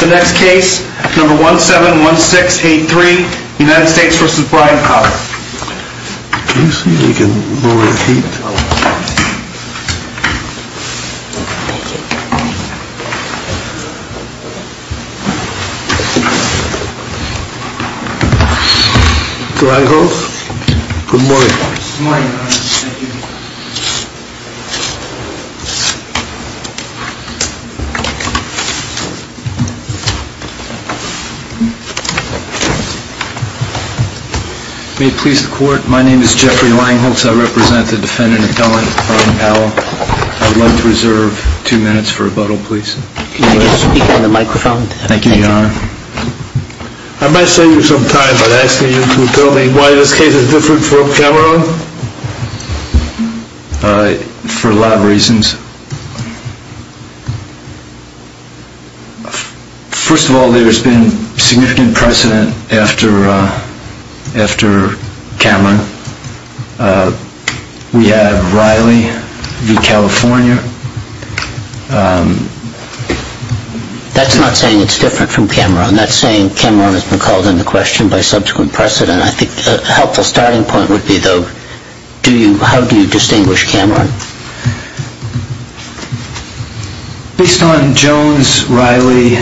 The next case, number 171683, United States v. Brian Powell Can you see if you can move over the heat? Good morning. May it please the court, my name is Jeffrey Langholz. I represent the defendant, McCullen, Brian Powell. I would like to reserve two minutes for rebuttal, please. Can you speak into the microphone? Thank you, Your Honor. I might save you some time by asking you to tell me why this case is different from Cameron? For a lot of reasons. First of all, there's been significant precedent after Cameron. We have Riley v. California. That's not saying it's different from Cameron. That's saying Cameron has been called into question by subsequent precedent. I think a helpful starting point would be, though, how do you distinguish Cameron? Based on Jones, Riley,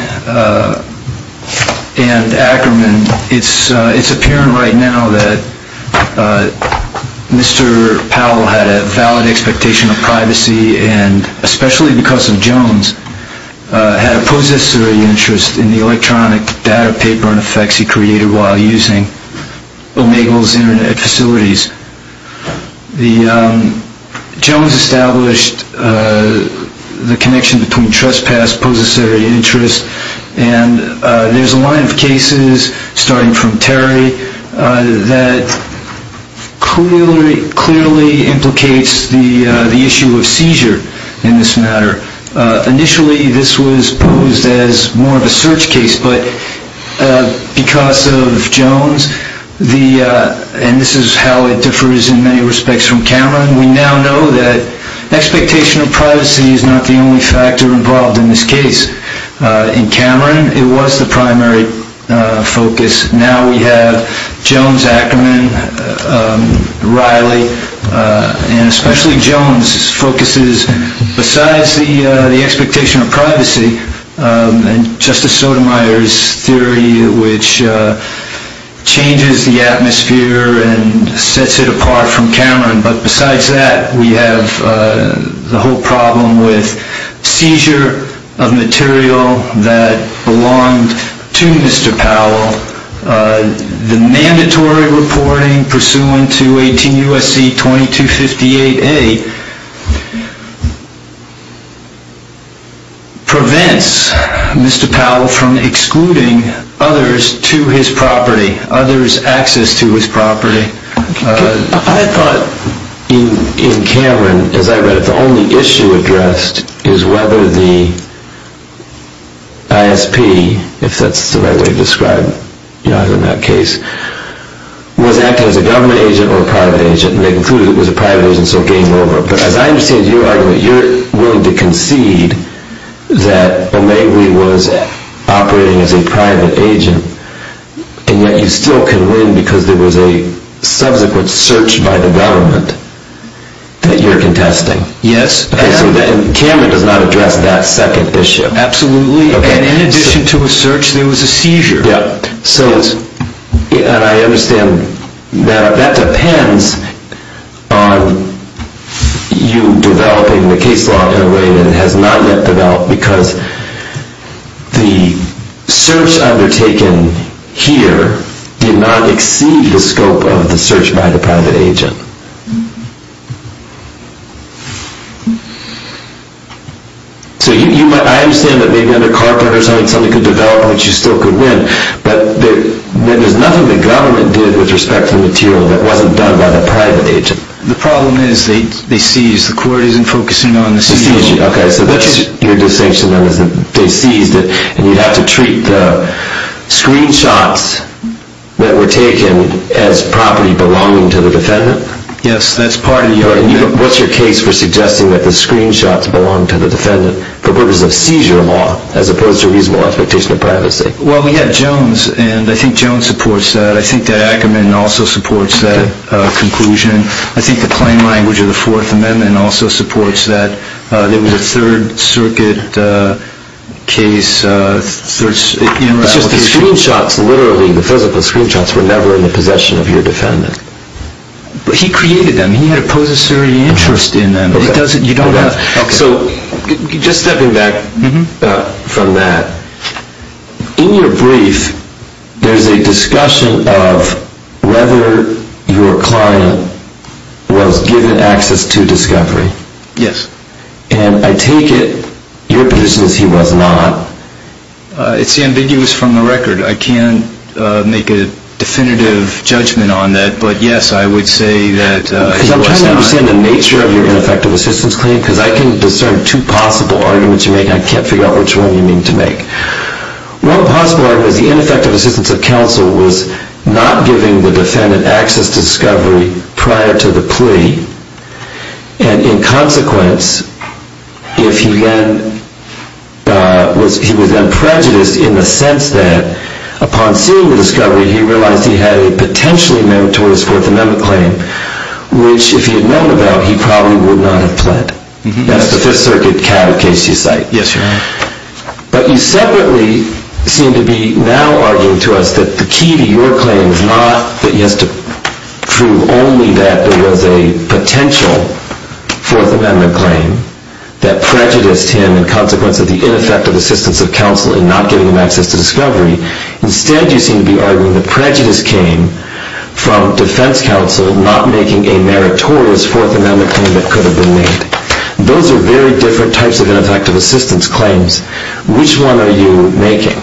and Ackerman, it's apparent right now that Mr. Powell had a valid expectation of privacy, and especially because of Jones, had a possessory interest in the electronic data paper and effects he created while using Omegle's Internet facilities. Jones established the connection between trespass, possessory interest, and there's a line of cases, starting from Terry, that clearly implicates the issue of seizure in this matter. Initially, this was posed as more of a search case, but because of Jones, and this is how it differs in many respects from Cameron, we now know that expectation of privacy is not the only factor involved in this case. In Cameron, it was the primary focus. Now we have Jones, Ackerman, Riley, and especially Jones focuses, besides the expectation of privacy, and Justice Sotomayor's theory, which changes the atmosphere and sets it apart from Cameron, but besides that, we have the whole problem with seizure of material that belonged to Mr. Powell. The mandatory reporting pursuant to 18 U.S.C. 2258A prevents Mr. Powell from excluding others to his property, others' access to his property. I thought in Cameron, as I read it, the only issue addressed is whether the ISP, if that's the right way to describe it in that case, was acting as a government agent or a private agent, and they concluded it was a private agent, so game over. But as I understand your argument, you're willing to concede that Omegle was operating as a private agent, and yet you still can win because there was a subsequent search by the government that you're contesting. Yes. And Cameron does not address that second issue. Absolutely. And in addition to a search, there was a seizure. And I understand that that depends on you developing the case law in a way that it has not yet developed, because the search undertaken here did not exceed the scope of the search by the private agent. So I understand that maybe under carpet or something could develop, but you still could win, but there's nothing the government did with respect to the material that wasn't done by the private agent. The problem is they seized. The court isn't focusing on the seizure. Okay, so that's your distinction, then, is that they seized it, and you'd have to treat the screenshots that were taken as property belonging to the defendant? Yes, that's part of the argument. What's your case for suggesting that the screenshots belong to the defendant for purposes of seizure law, as opposed to reasonable expectation of privacy? Well, we have Jones, and I think Jones supports that. I think that Ackerman also supports that conclusion. I think the plain language of the Fourth Amendment also supports that. There was a Third Circuit case. It's just the screenshots, literally, the physical screenshots, were never in the possession of your defendant. But he created them. He had a possessory interest in them. So just stepping back from that, in your brief there's a discussion of whether your client was given access to discovery. Yes. And I take it your position is he was not. It's ambiguous from the record. I can't make a definitive judgment on that. But, yes, I would say that he was not. Because I'm trying to understand the nature of your ineffective assistance claim, because I can discern two possible arguments you make, and I can't figure out which one you mean to make. One possible argument is the ineffective assistance of counsel was not giving the defendant access to discovery prior to the plea. And, in consequence, he was then prejudiced in the sense that, upon seeing the discovery, he realized he had a potentially meritorious Fourth Amendment claim, which, if he had known about, he probably would not have pled. That's the Fifth Circuit case you cite. Yes, sir. But you separately seem to be now arguing to us that the key to your claim is not that he has to prove only that there was a potential Fourth Amendment claim that prejudiced him, in consequence of the ineffective assistance of counsel in not giving him access to discovery. Instead, you seem to be arguing the prejudice came from defense counsel not making a meritorious Fourth Amendment claim that could have been made. Those are very different types of ineffective assistance claims. Which one are you making?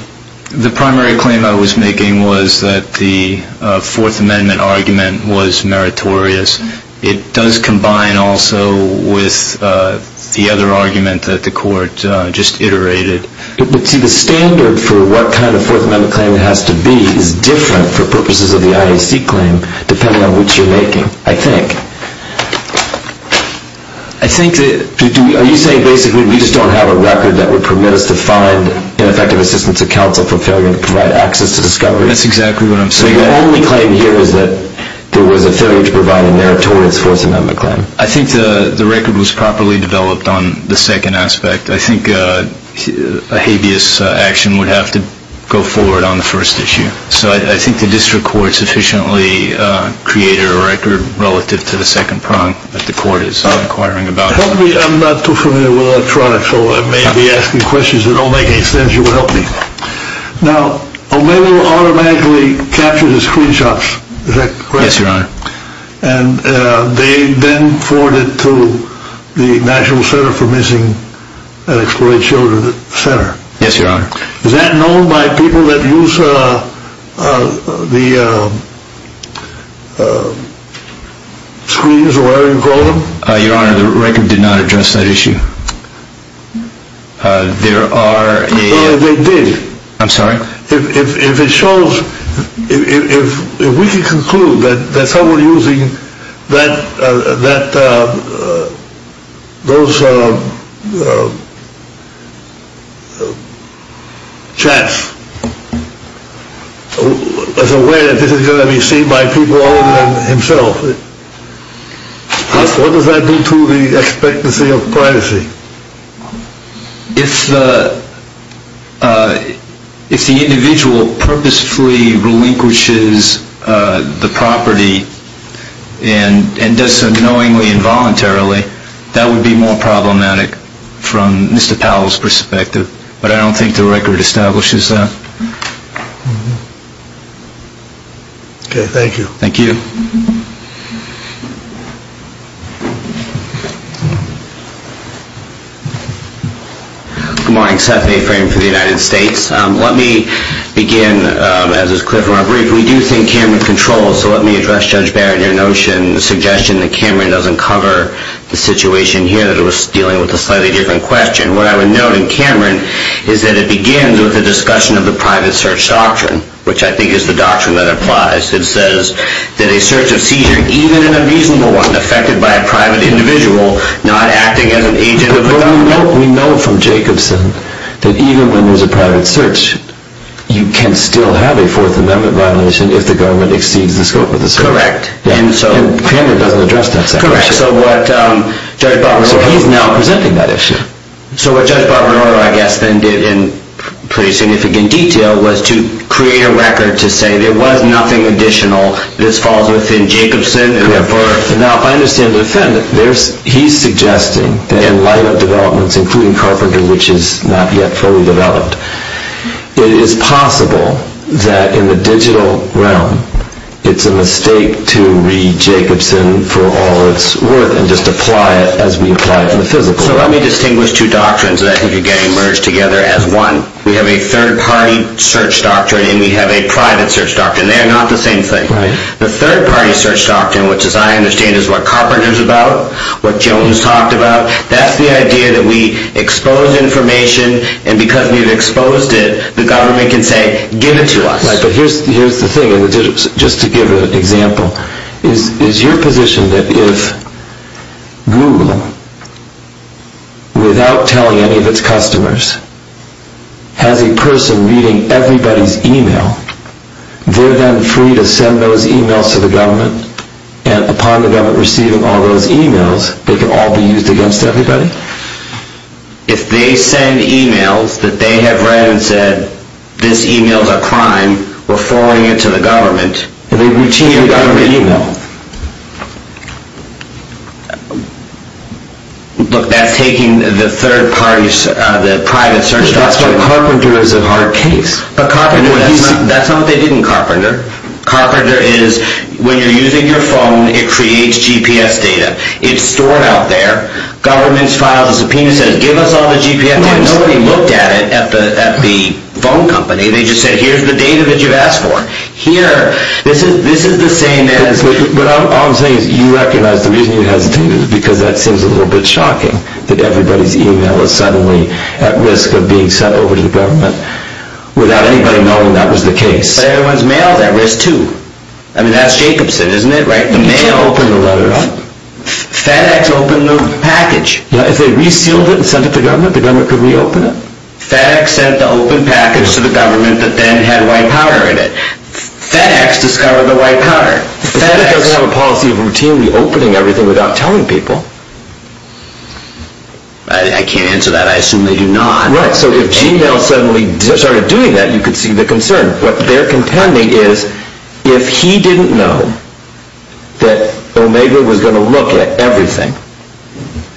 The primary claim I was making was that the Fourth Amendment argument was meritorious. It does combine also with the other argument that the court just iterated. But, see, the standard for what kind of Fourth Amendment claim it has to be is different for purposes of the IAC claim, depending on which you're making, I think. Are you saying basically we just don't have a record that would permit us to find ineffective assistance of counsel for failure to provide access to discovery? That's exactly what I'm saying. So your only claim here is that there was a failure to provide a meritorious Fourth Amendment claim. I think the record was properly developed on the second aspect. I think a habeas action would have to go forward on the first issue. So I think the district court sufficiently created a record relative to the second prong that the court is inquiring about. I'm not too familiar with electronics, so I may be asking questions that don't make any sense. You will help me. Now, O'Malley automatically captured the screenshots. Is that correct? Yes, Your Honor. And they then forwarded to the National Center for Missing and Exploited Children Center. Yes, Your Honor. Is that known by people that use the screens or whatever you call them? Your Honor, the record did not address that issue. There are a... They did. I'm sorry? If we can conclude that someone using those chats is aware that this is going to be seen by people other than himself, what does that do to the expectancy of privacy? If the individual purposefully relinquishes the property and does so knowingly and voluntarily, that would be more problematic from Mr. Powell's perspective. But I don't think the record establishes that. Okay. Thank you. Thank you. Good morning. Seth Mayframe for the United States. Let me begin, as is clear from our brief, we do think Cameron controls, so let me address, Judge Barron, your notion, the suggestion that Cameron doesn't cover the situation here, that it was dealing with a slightly different question. What I would note in Cameron is that it begins with the discussion of the private search doctrine, which I think is the doctrine that applies. It says that a search of seizure, even an unreasonable one, is affected by a private individual not acting as an agent of the government. We know from Jacobson that even when there's a private search, you can still have a Fourth Amendment violation if the government exceeds the scope of the search. Correct. And Cameron doesn't address that section. Correct. So he's now presenting that issue. So what Judge Barbonoro, I guess, then did in pretty significant detail, was to create a record to say there was nothing additional. This falls within Jacobson. Now, if I understand the defendant, he's suggesting that in light of developments, including Carpenter, which is not yet fully developed, it is possible that in the digital realm it's a mistake to read Jacobson for all it's worth and just apply it as we apply it in the physical realm. So let me distinguish two doctrines that I think are getting merged together as one. We have a third-party search doctrine and we have a private search doctrine. And they're not the same thing. Right. The third-party search doctrine, which as I understand is what Carpenter's about, what Jones talked about, that's the idea that we expose information and because we've exposed it, the government can say, give it to us. Right, but here's the thing, just to give an example. Is your position that if Google, without telling any of its customers, has a person reading everybody's e-mail, they're then free to send those e-mails to the government and upon the government receiving all those e-mails, they can all be used against everybody? If they send e-mails that they have read and said, this e-mail is a crime, we're forwarding it to the government. And they routinely get an e-mail. Look, that's taking the third-party, the private search doctrine. But that's what Carpenter is in our case. That's not what they did in Carpenter. Carpenter is, when you're using your phone, it creates GPS data. It's stored out there. Government's filed a subpoena, says, give us all the GPS data. Nobody looked at it at the phone company. They just said, here's the data that you've asked for. Here, this is the same as... But all I'm saying is you recognize the reason you hesitated is because that seems a little bit shocking, that everybody's e-mail is suddenly at risk of being sent over to the government without anybody knowing that was the case. But everyone's mail is at risk, too. I mean, that's Jacobson, isn't it? The mail... You can't open the letter up. FedEx opened the package. If they resealed it and sent it to government, the government could reopen it? FedEx sent the open package to the government that then had white powder in it. FedEx discovered the white powder. FedEx... But FedEx doesn't have a policy of routinely opening everything without telling people. I can't answer that. I assume they do not. Right. So if Gmail suddenly started doing that, you could see the concern. What they're contending is if he didn't know that Omega was going to look at everything,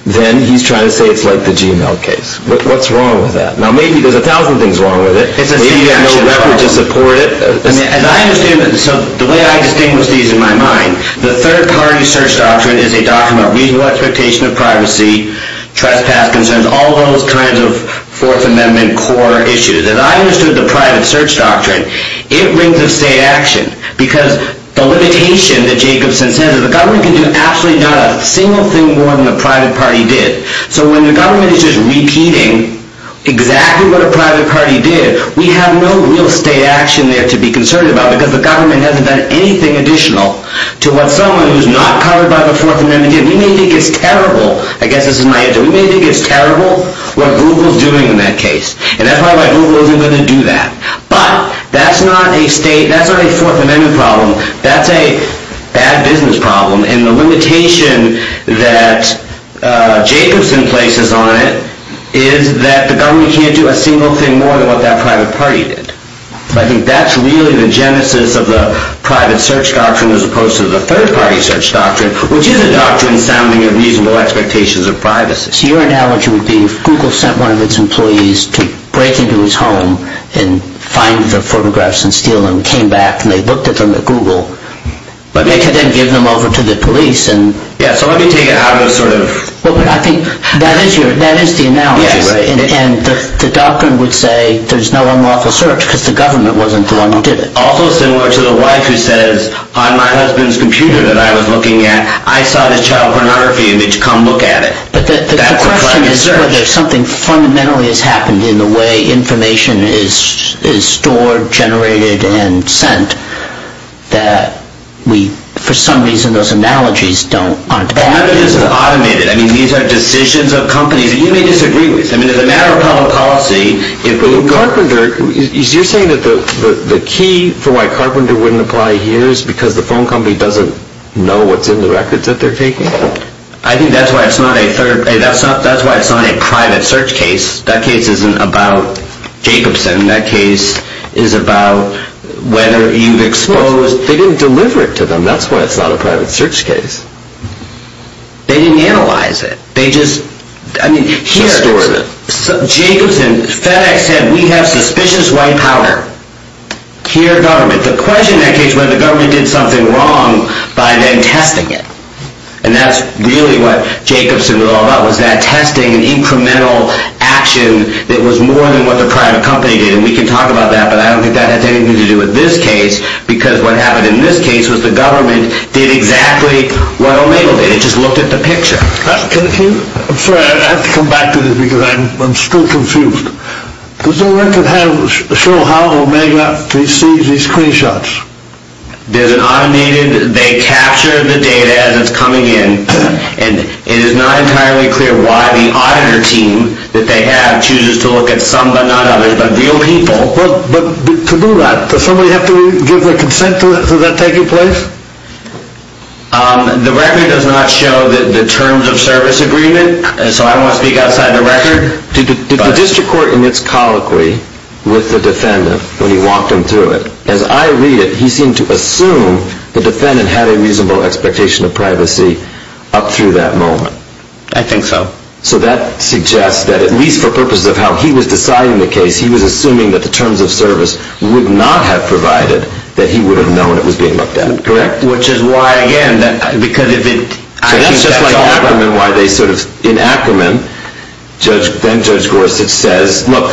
then he's trying to say it's like the Gmail case. What's wrong with that? Now, maybe there's a thousand things wrong with it. Maybe there's no leverage to support it. As I understand it, so the way I distinguish these in my mind, the third-party search doctrine is a doctrine of reasonable expectation of privacy, trespass concerns, all those kinds of Fourth Amendment core issues. As I understood the private search doctrine, it brings a state action because the limitation that Jacobson says is the government can do absolutely not a single thing more than the private party did. So when the government is just repeating exactly what a private party did, we have no real state action there to be concerned about because the government hasn't done anything additional to what someone who's not covered by the Fourth Amendment did. We may think it's terrible. I guess this is my answer. We may think it's terrible what Google's doing in that case, and that's probably why Google isn't going to do that. But that's not a Fourth Amendment problem. That's a bad business problem, and the limitation that Jacobson places on it is that the government can't do a single thing more than what that private party did. I think that's really the genesis of the private search doctrine as opposed to the third-party search doctrine, which is a doctrine sounding of reasonable expectations of privacy. So your analogy would be if Google sent one of its employees to break into his home and find the photographs and steal them and came back and they looked at them at Google, but they could then give them over to the police and… Yeah, so let me take it out of the sort of… I think that is the analogy, and the doctrine would say there's no unlawful search because the government wasn't the one who did it. Also similar to the wife who says, on my husband's computer that I was looking at, I saw this child pornography image. Come look at it. But the question is whether something fundamentally has happened in the way information is stored, generated, and sent that we, for some reason, those analogies don't… The evidence is automated. I mean, these are decisions of companies that you may disagree with. I mean, as a matter of public policy, if Google… But Carpenter… You're saying that the key for why Carpenter wouldn't apply here is because the phone company doesn't know what's in the records that they're taking? I think that's why it's not a third… That's why it's not a private search case. That case isn't about Jacobson. That case is about whether you've exposed… They didn't deliver it to them. And that's why it's not a private search case. They didn't analyze it. They just… I mean, here… Just stored it. Jacobson… FedEx said, we have suspicious white powder. Here, government… The question in that case was whether the government did something wrong by then testing it. And that's really what Jacobson was all about, was that testing and incremental action that was more than what the private company did. And we can talk about that, but I don't think that has anything to do with this case because what happened in this case was the government did exactly what Omega did. It just looked at the picture. Can you… I'm sorry. I have to come back to this because I'm still confused. Does the record have… show how Omega receives these screenshots? There's an automated… They capture the data as it's coming in and it is not entirely clear why the auditor team that they have chooses to look at some, but not others, but real people. But… To do that, does somebody have to give their consent to that taking place? The record does not show the terms of service agreement, so I won't speak outside the record. Did the district court emits colloquy with the defendant when he walked them through it? As I read it, he seemed to assume the defendant had a reasonable expectation of privacy up through that moment. I think so. So that suggests that, at least for purposes of how he was deciding the case, he was assuming that the terms of service would not have provided that he would have known it was being looked at. Correct? Which is why, again, because if it… That's just like Ackerman, why they sort of… In Ackerman, then Judge Gorsuch says, look,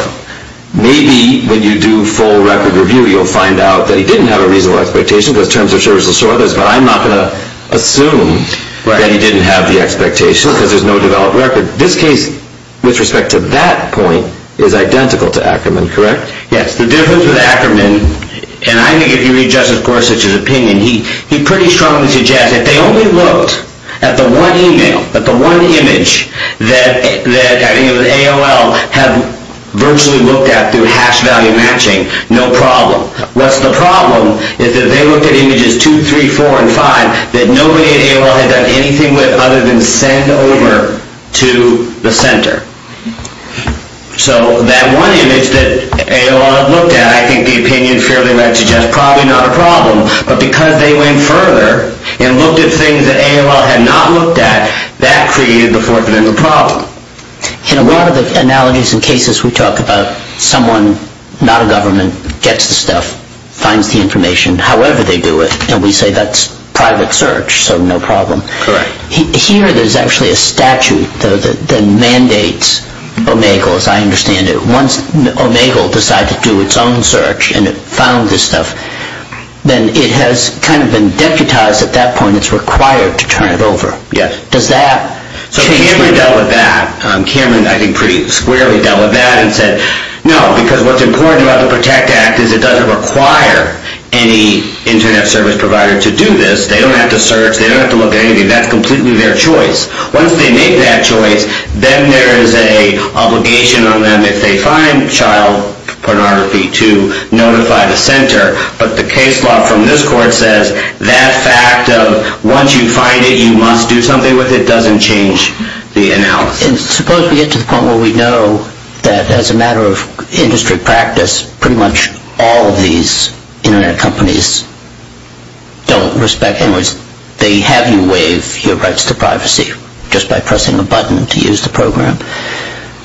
maybe when you do full record review, you'll find out that he didn't have a reasonable expectation because terms of service will show others, but I'm not going to assume that he didn't have the expectation because there's no developed record. This case, with respect to that point, is identical to Ackerman, correct? Yes. The difference with Ackerman, and I think if you read Justice Gorsuch's opinion, he pretty strongly suggests that if they only looked at the one email, at the one image, that AOL had virtually looked at through hash value matching, no problem. What's the problem is that they looked at images 2, 3, 4, and 5 that nobody at AOL had done anything with rather than send over to the center. So that one image that AOL had looked at, I think the opinion fairly likely suggests probably not a problem, but because they went further and looked at things that AOL had not looked at, that created the fourth and end of the problem. In a lot of the analogies and cases we talk about, someone, not a government, gets the stuff, finds the information, however they do it, and we say that's private search, so no problem. Correct. Here there's actually a statute that mandates Omegle, as I understand it. Once Omegle decided to do its own search and it found this stuff, then it has kind of been deputized at that point it's required to turn it over. Does that change? So Cameron dealt with that. Cameron, I think, pretty squarely dealt with that and said, no, because what's important about the PROTECT Act is it doesn't require any Internet service provider to do this. They don't have to search. They don't have to look at anything. That's completely their choice. Once they make that choice, then there is an obligation on them if they find child pornography to notify the center. But the case law from this court says that fact of once you find it you must do something with it doesn't change the analysis. And suppose we get to the point where we know that as a matter of industry practice pretty much all of these Internet companies don't respect, in other words, they have you waive your rights to privacy just by pressing a button to use the program.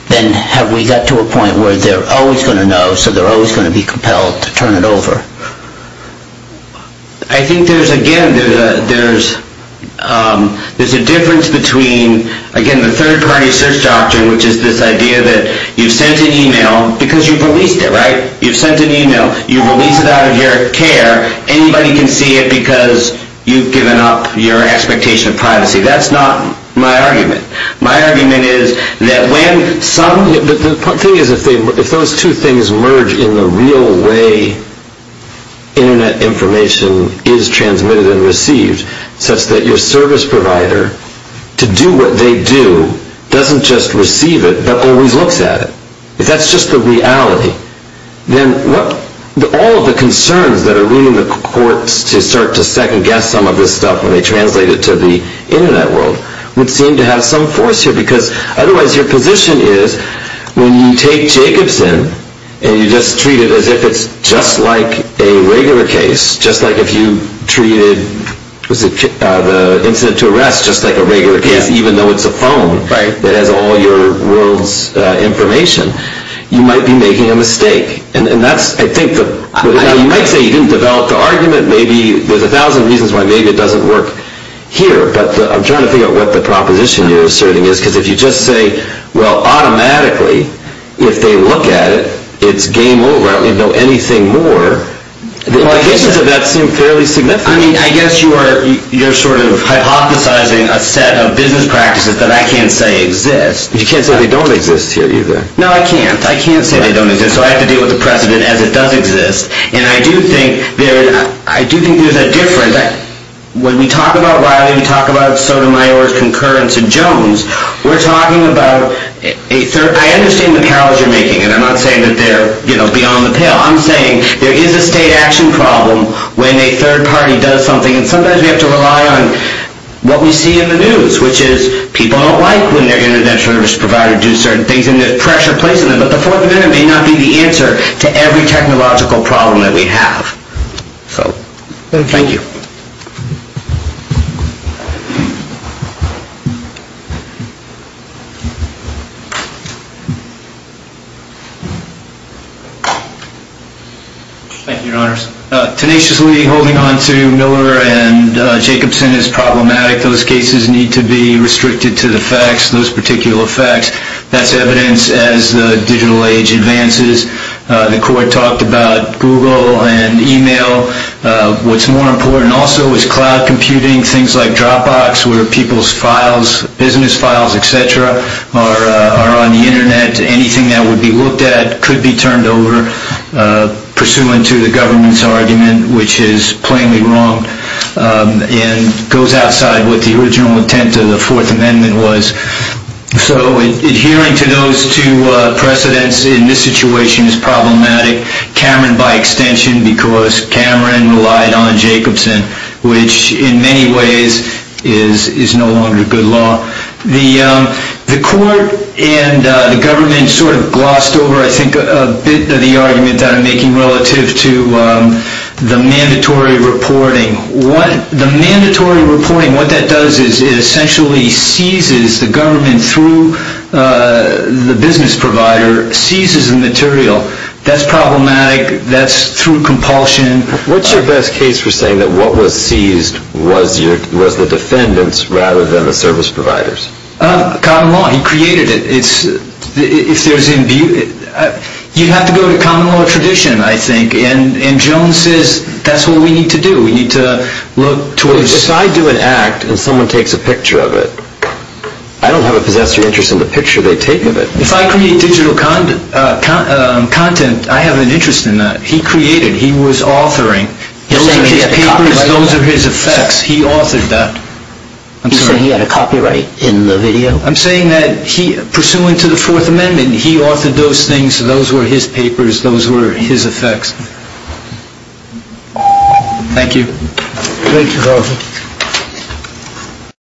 Then have we got to a point where they're always going to know so they're always going to be compelled to turn it over? I think there's, again, there's a difference between, again, the third-party search doctrine which is this idea that you've sent an email because you've released it, right? You've sent an email. You've released it out of your care where anybody can see it because you've given up your expectation of privacy. That's not my argument. My argument is that when some... The thing is if those two things merge in the real way Internet information is transmitted and received such that your service provider, to do what they do, doesn't just receive it but always looks at it. If that's just the reality, then all of the concerns that are leaning the courts to start to second-guess some of this stuff when they translate it to the Internet world would seem to have some force here because otherwise your position is when you take Jacobson and you just treat it as if it's just like a regular case, just like if you treated the incident to arrest just like a regular case even though it's a phone that has all your world's information, you might be making a mistake. You might say you didn't develop the argument. There's a thousand reasons why maybe it doesn't work here. But I'm trying to figure out what the proposition you're asserting is because if you just say, well, automatically if they look at it, it's game over. I don't need to know anything more. The implications of that seem fairly significant. I guess you're sort of hypothesizing a set of business practices that I can't say exist. You can't say they don't exist here either. No, I can't. I can't say they don't exist. So I have to deal with the precedent as it does exist. And I do think there's a difference. When we talk about Riley, we talk about Sotomayor's concurrence in Jones. We're talking about a third... I understand the parallels you're making and I'm not saying that they're beyond the pale. I'm saying there is a state action problem when a third party does something and sometimes we have to rely on what we see in the news which is people don't like when their Internet service provider does certain things and there's pressure placed on them. But the Fourth Amendment may not be the answer to every technological problem that we have. So, thank you. Thank you, Your Honors. Tenaciously holding on to Miller and Jacobson is problematic. Those cases need to be restricted to the facts, those particular facts. That's evidence as the digital age advances. The Court talked about Google and email. What's more important also is cloud computing, things like Dropbox where people's files, business files, etc., are on the Internet. Anything that would be looked at could be turned over pursuant to the government's argument, which is plainly wrong and goes outside what the original intent of the Fourth Amendment was. So, adhering to those two precedents in this situation is problematic, Cameron by extension, because Cameron relied on Jacobson, which in many ways is no longer good law. The Court and the government sort of glossed over, I think, a bit of the argument that I'm making relative to the mandatory reporting. The mandatory reporting, what that does is it essentially seizes the government through the business provider, seizes the material. That's problematic. That's through compulsion. What's your best case for saying that what was seized was the defendants rather than the service providers? Common law. He created it. You'd have to go to common law tradition, I think. And Jones says that's what we need to do. We need to look towards... I don't have a possessory interest in the picture they take of it. If I create digital content, I have an interest in that. He created. He was authoring. Those are his papers. Those are his effects. He authored that. I'm sorry? He said he had a copyright in the video. I'm saying that pursuant to the Fourth Amendment, he authored those things. Those were his papers. Those were his effects. Thank you. Thank you.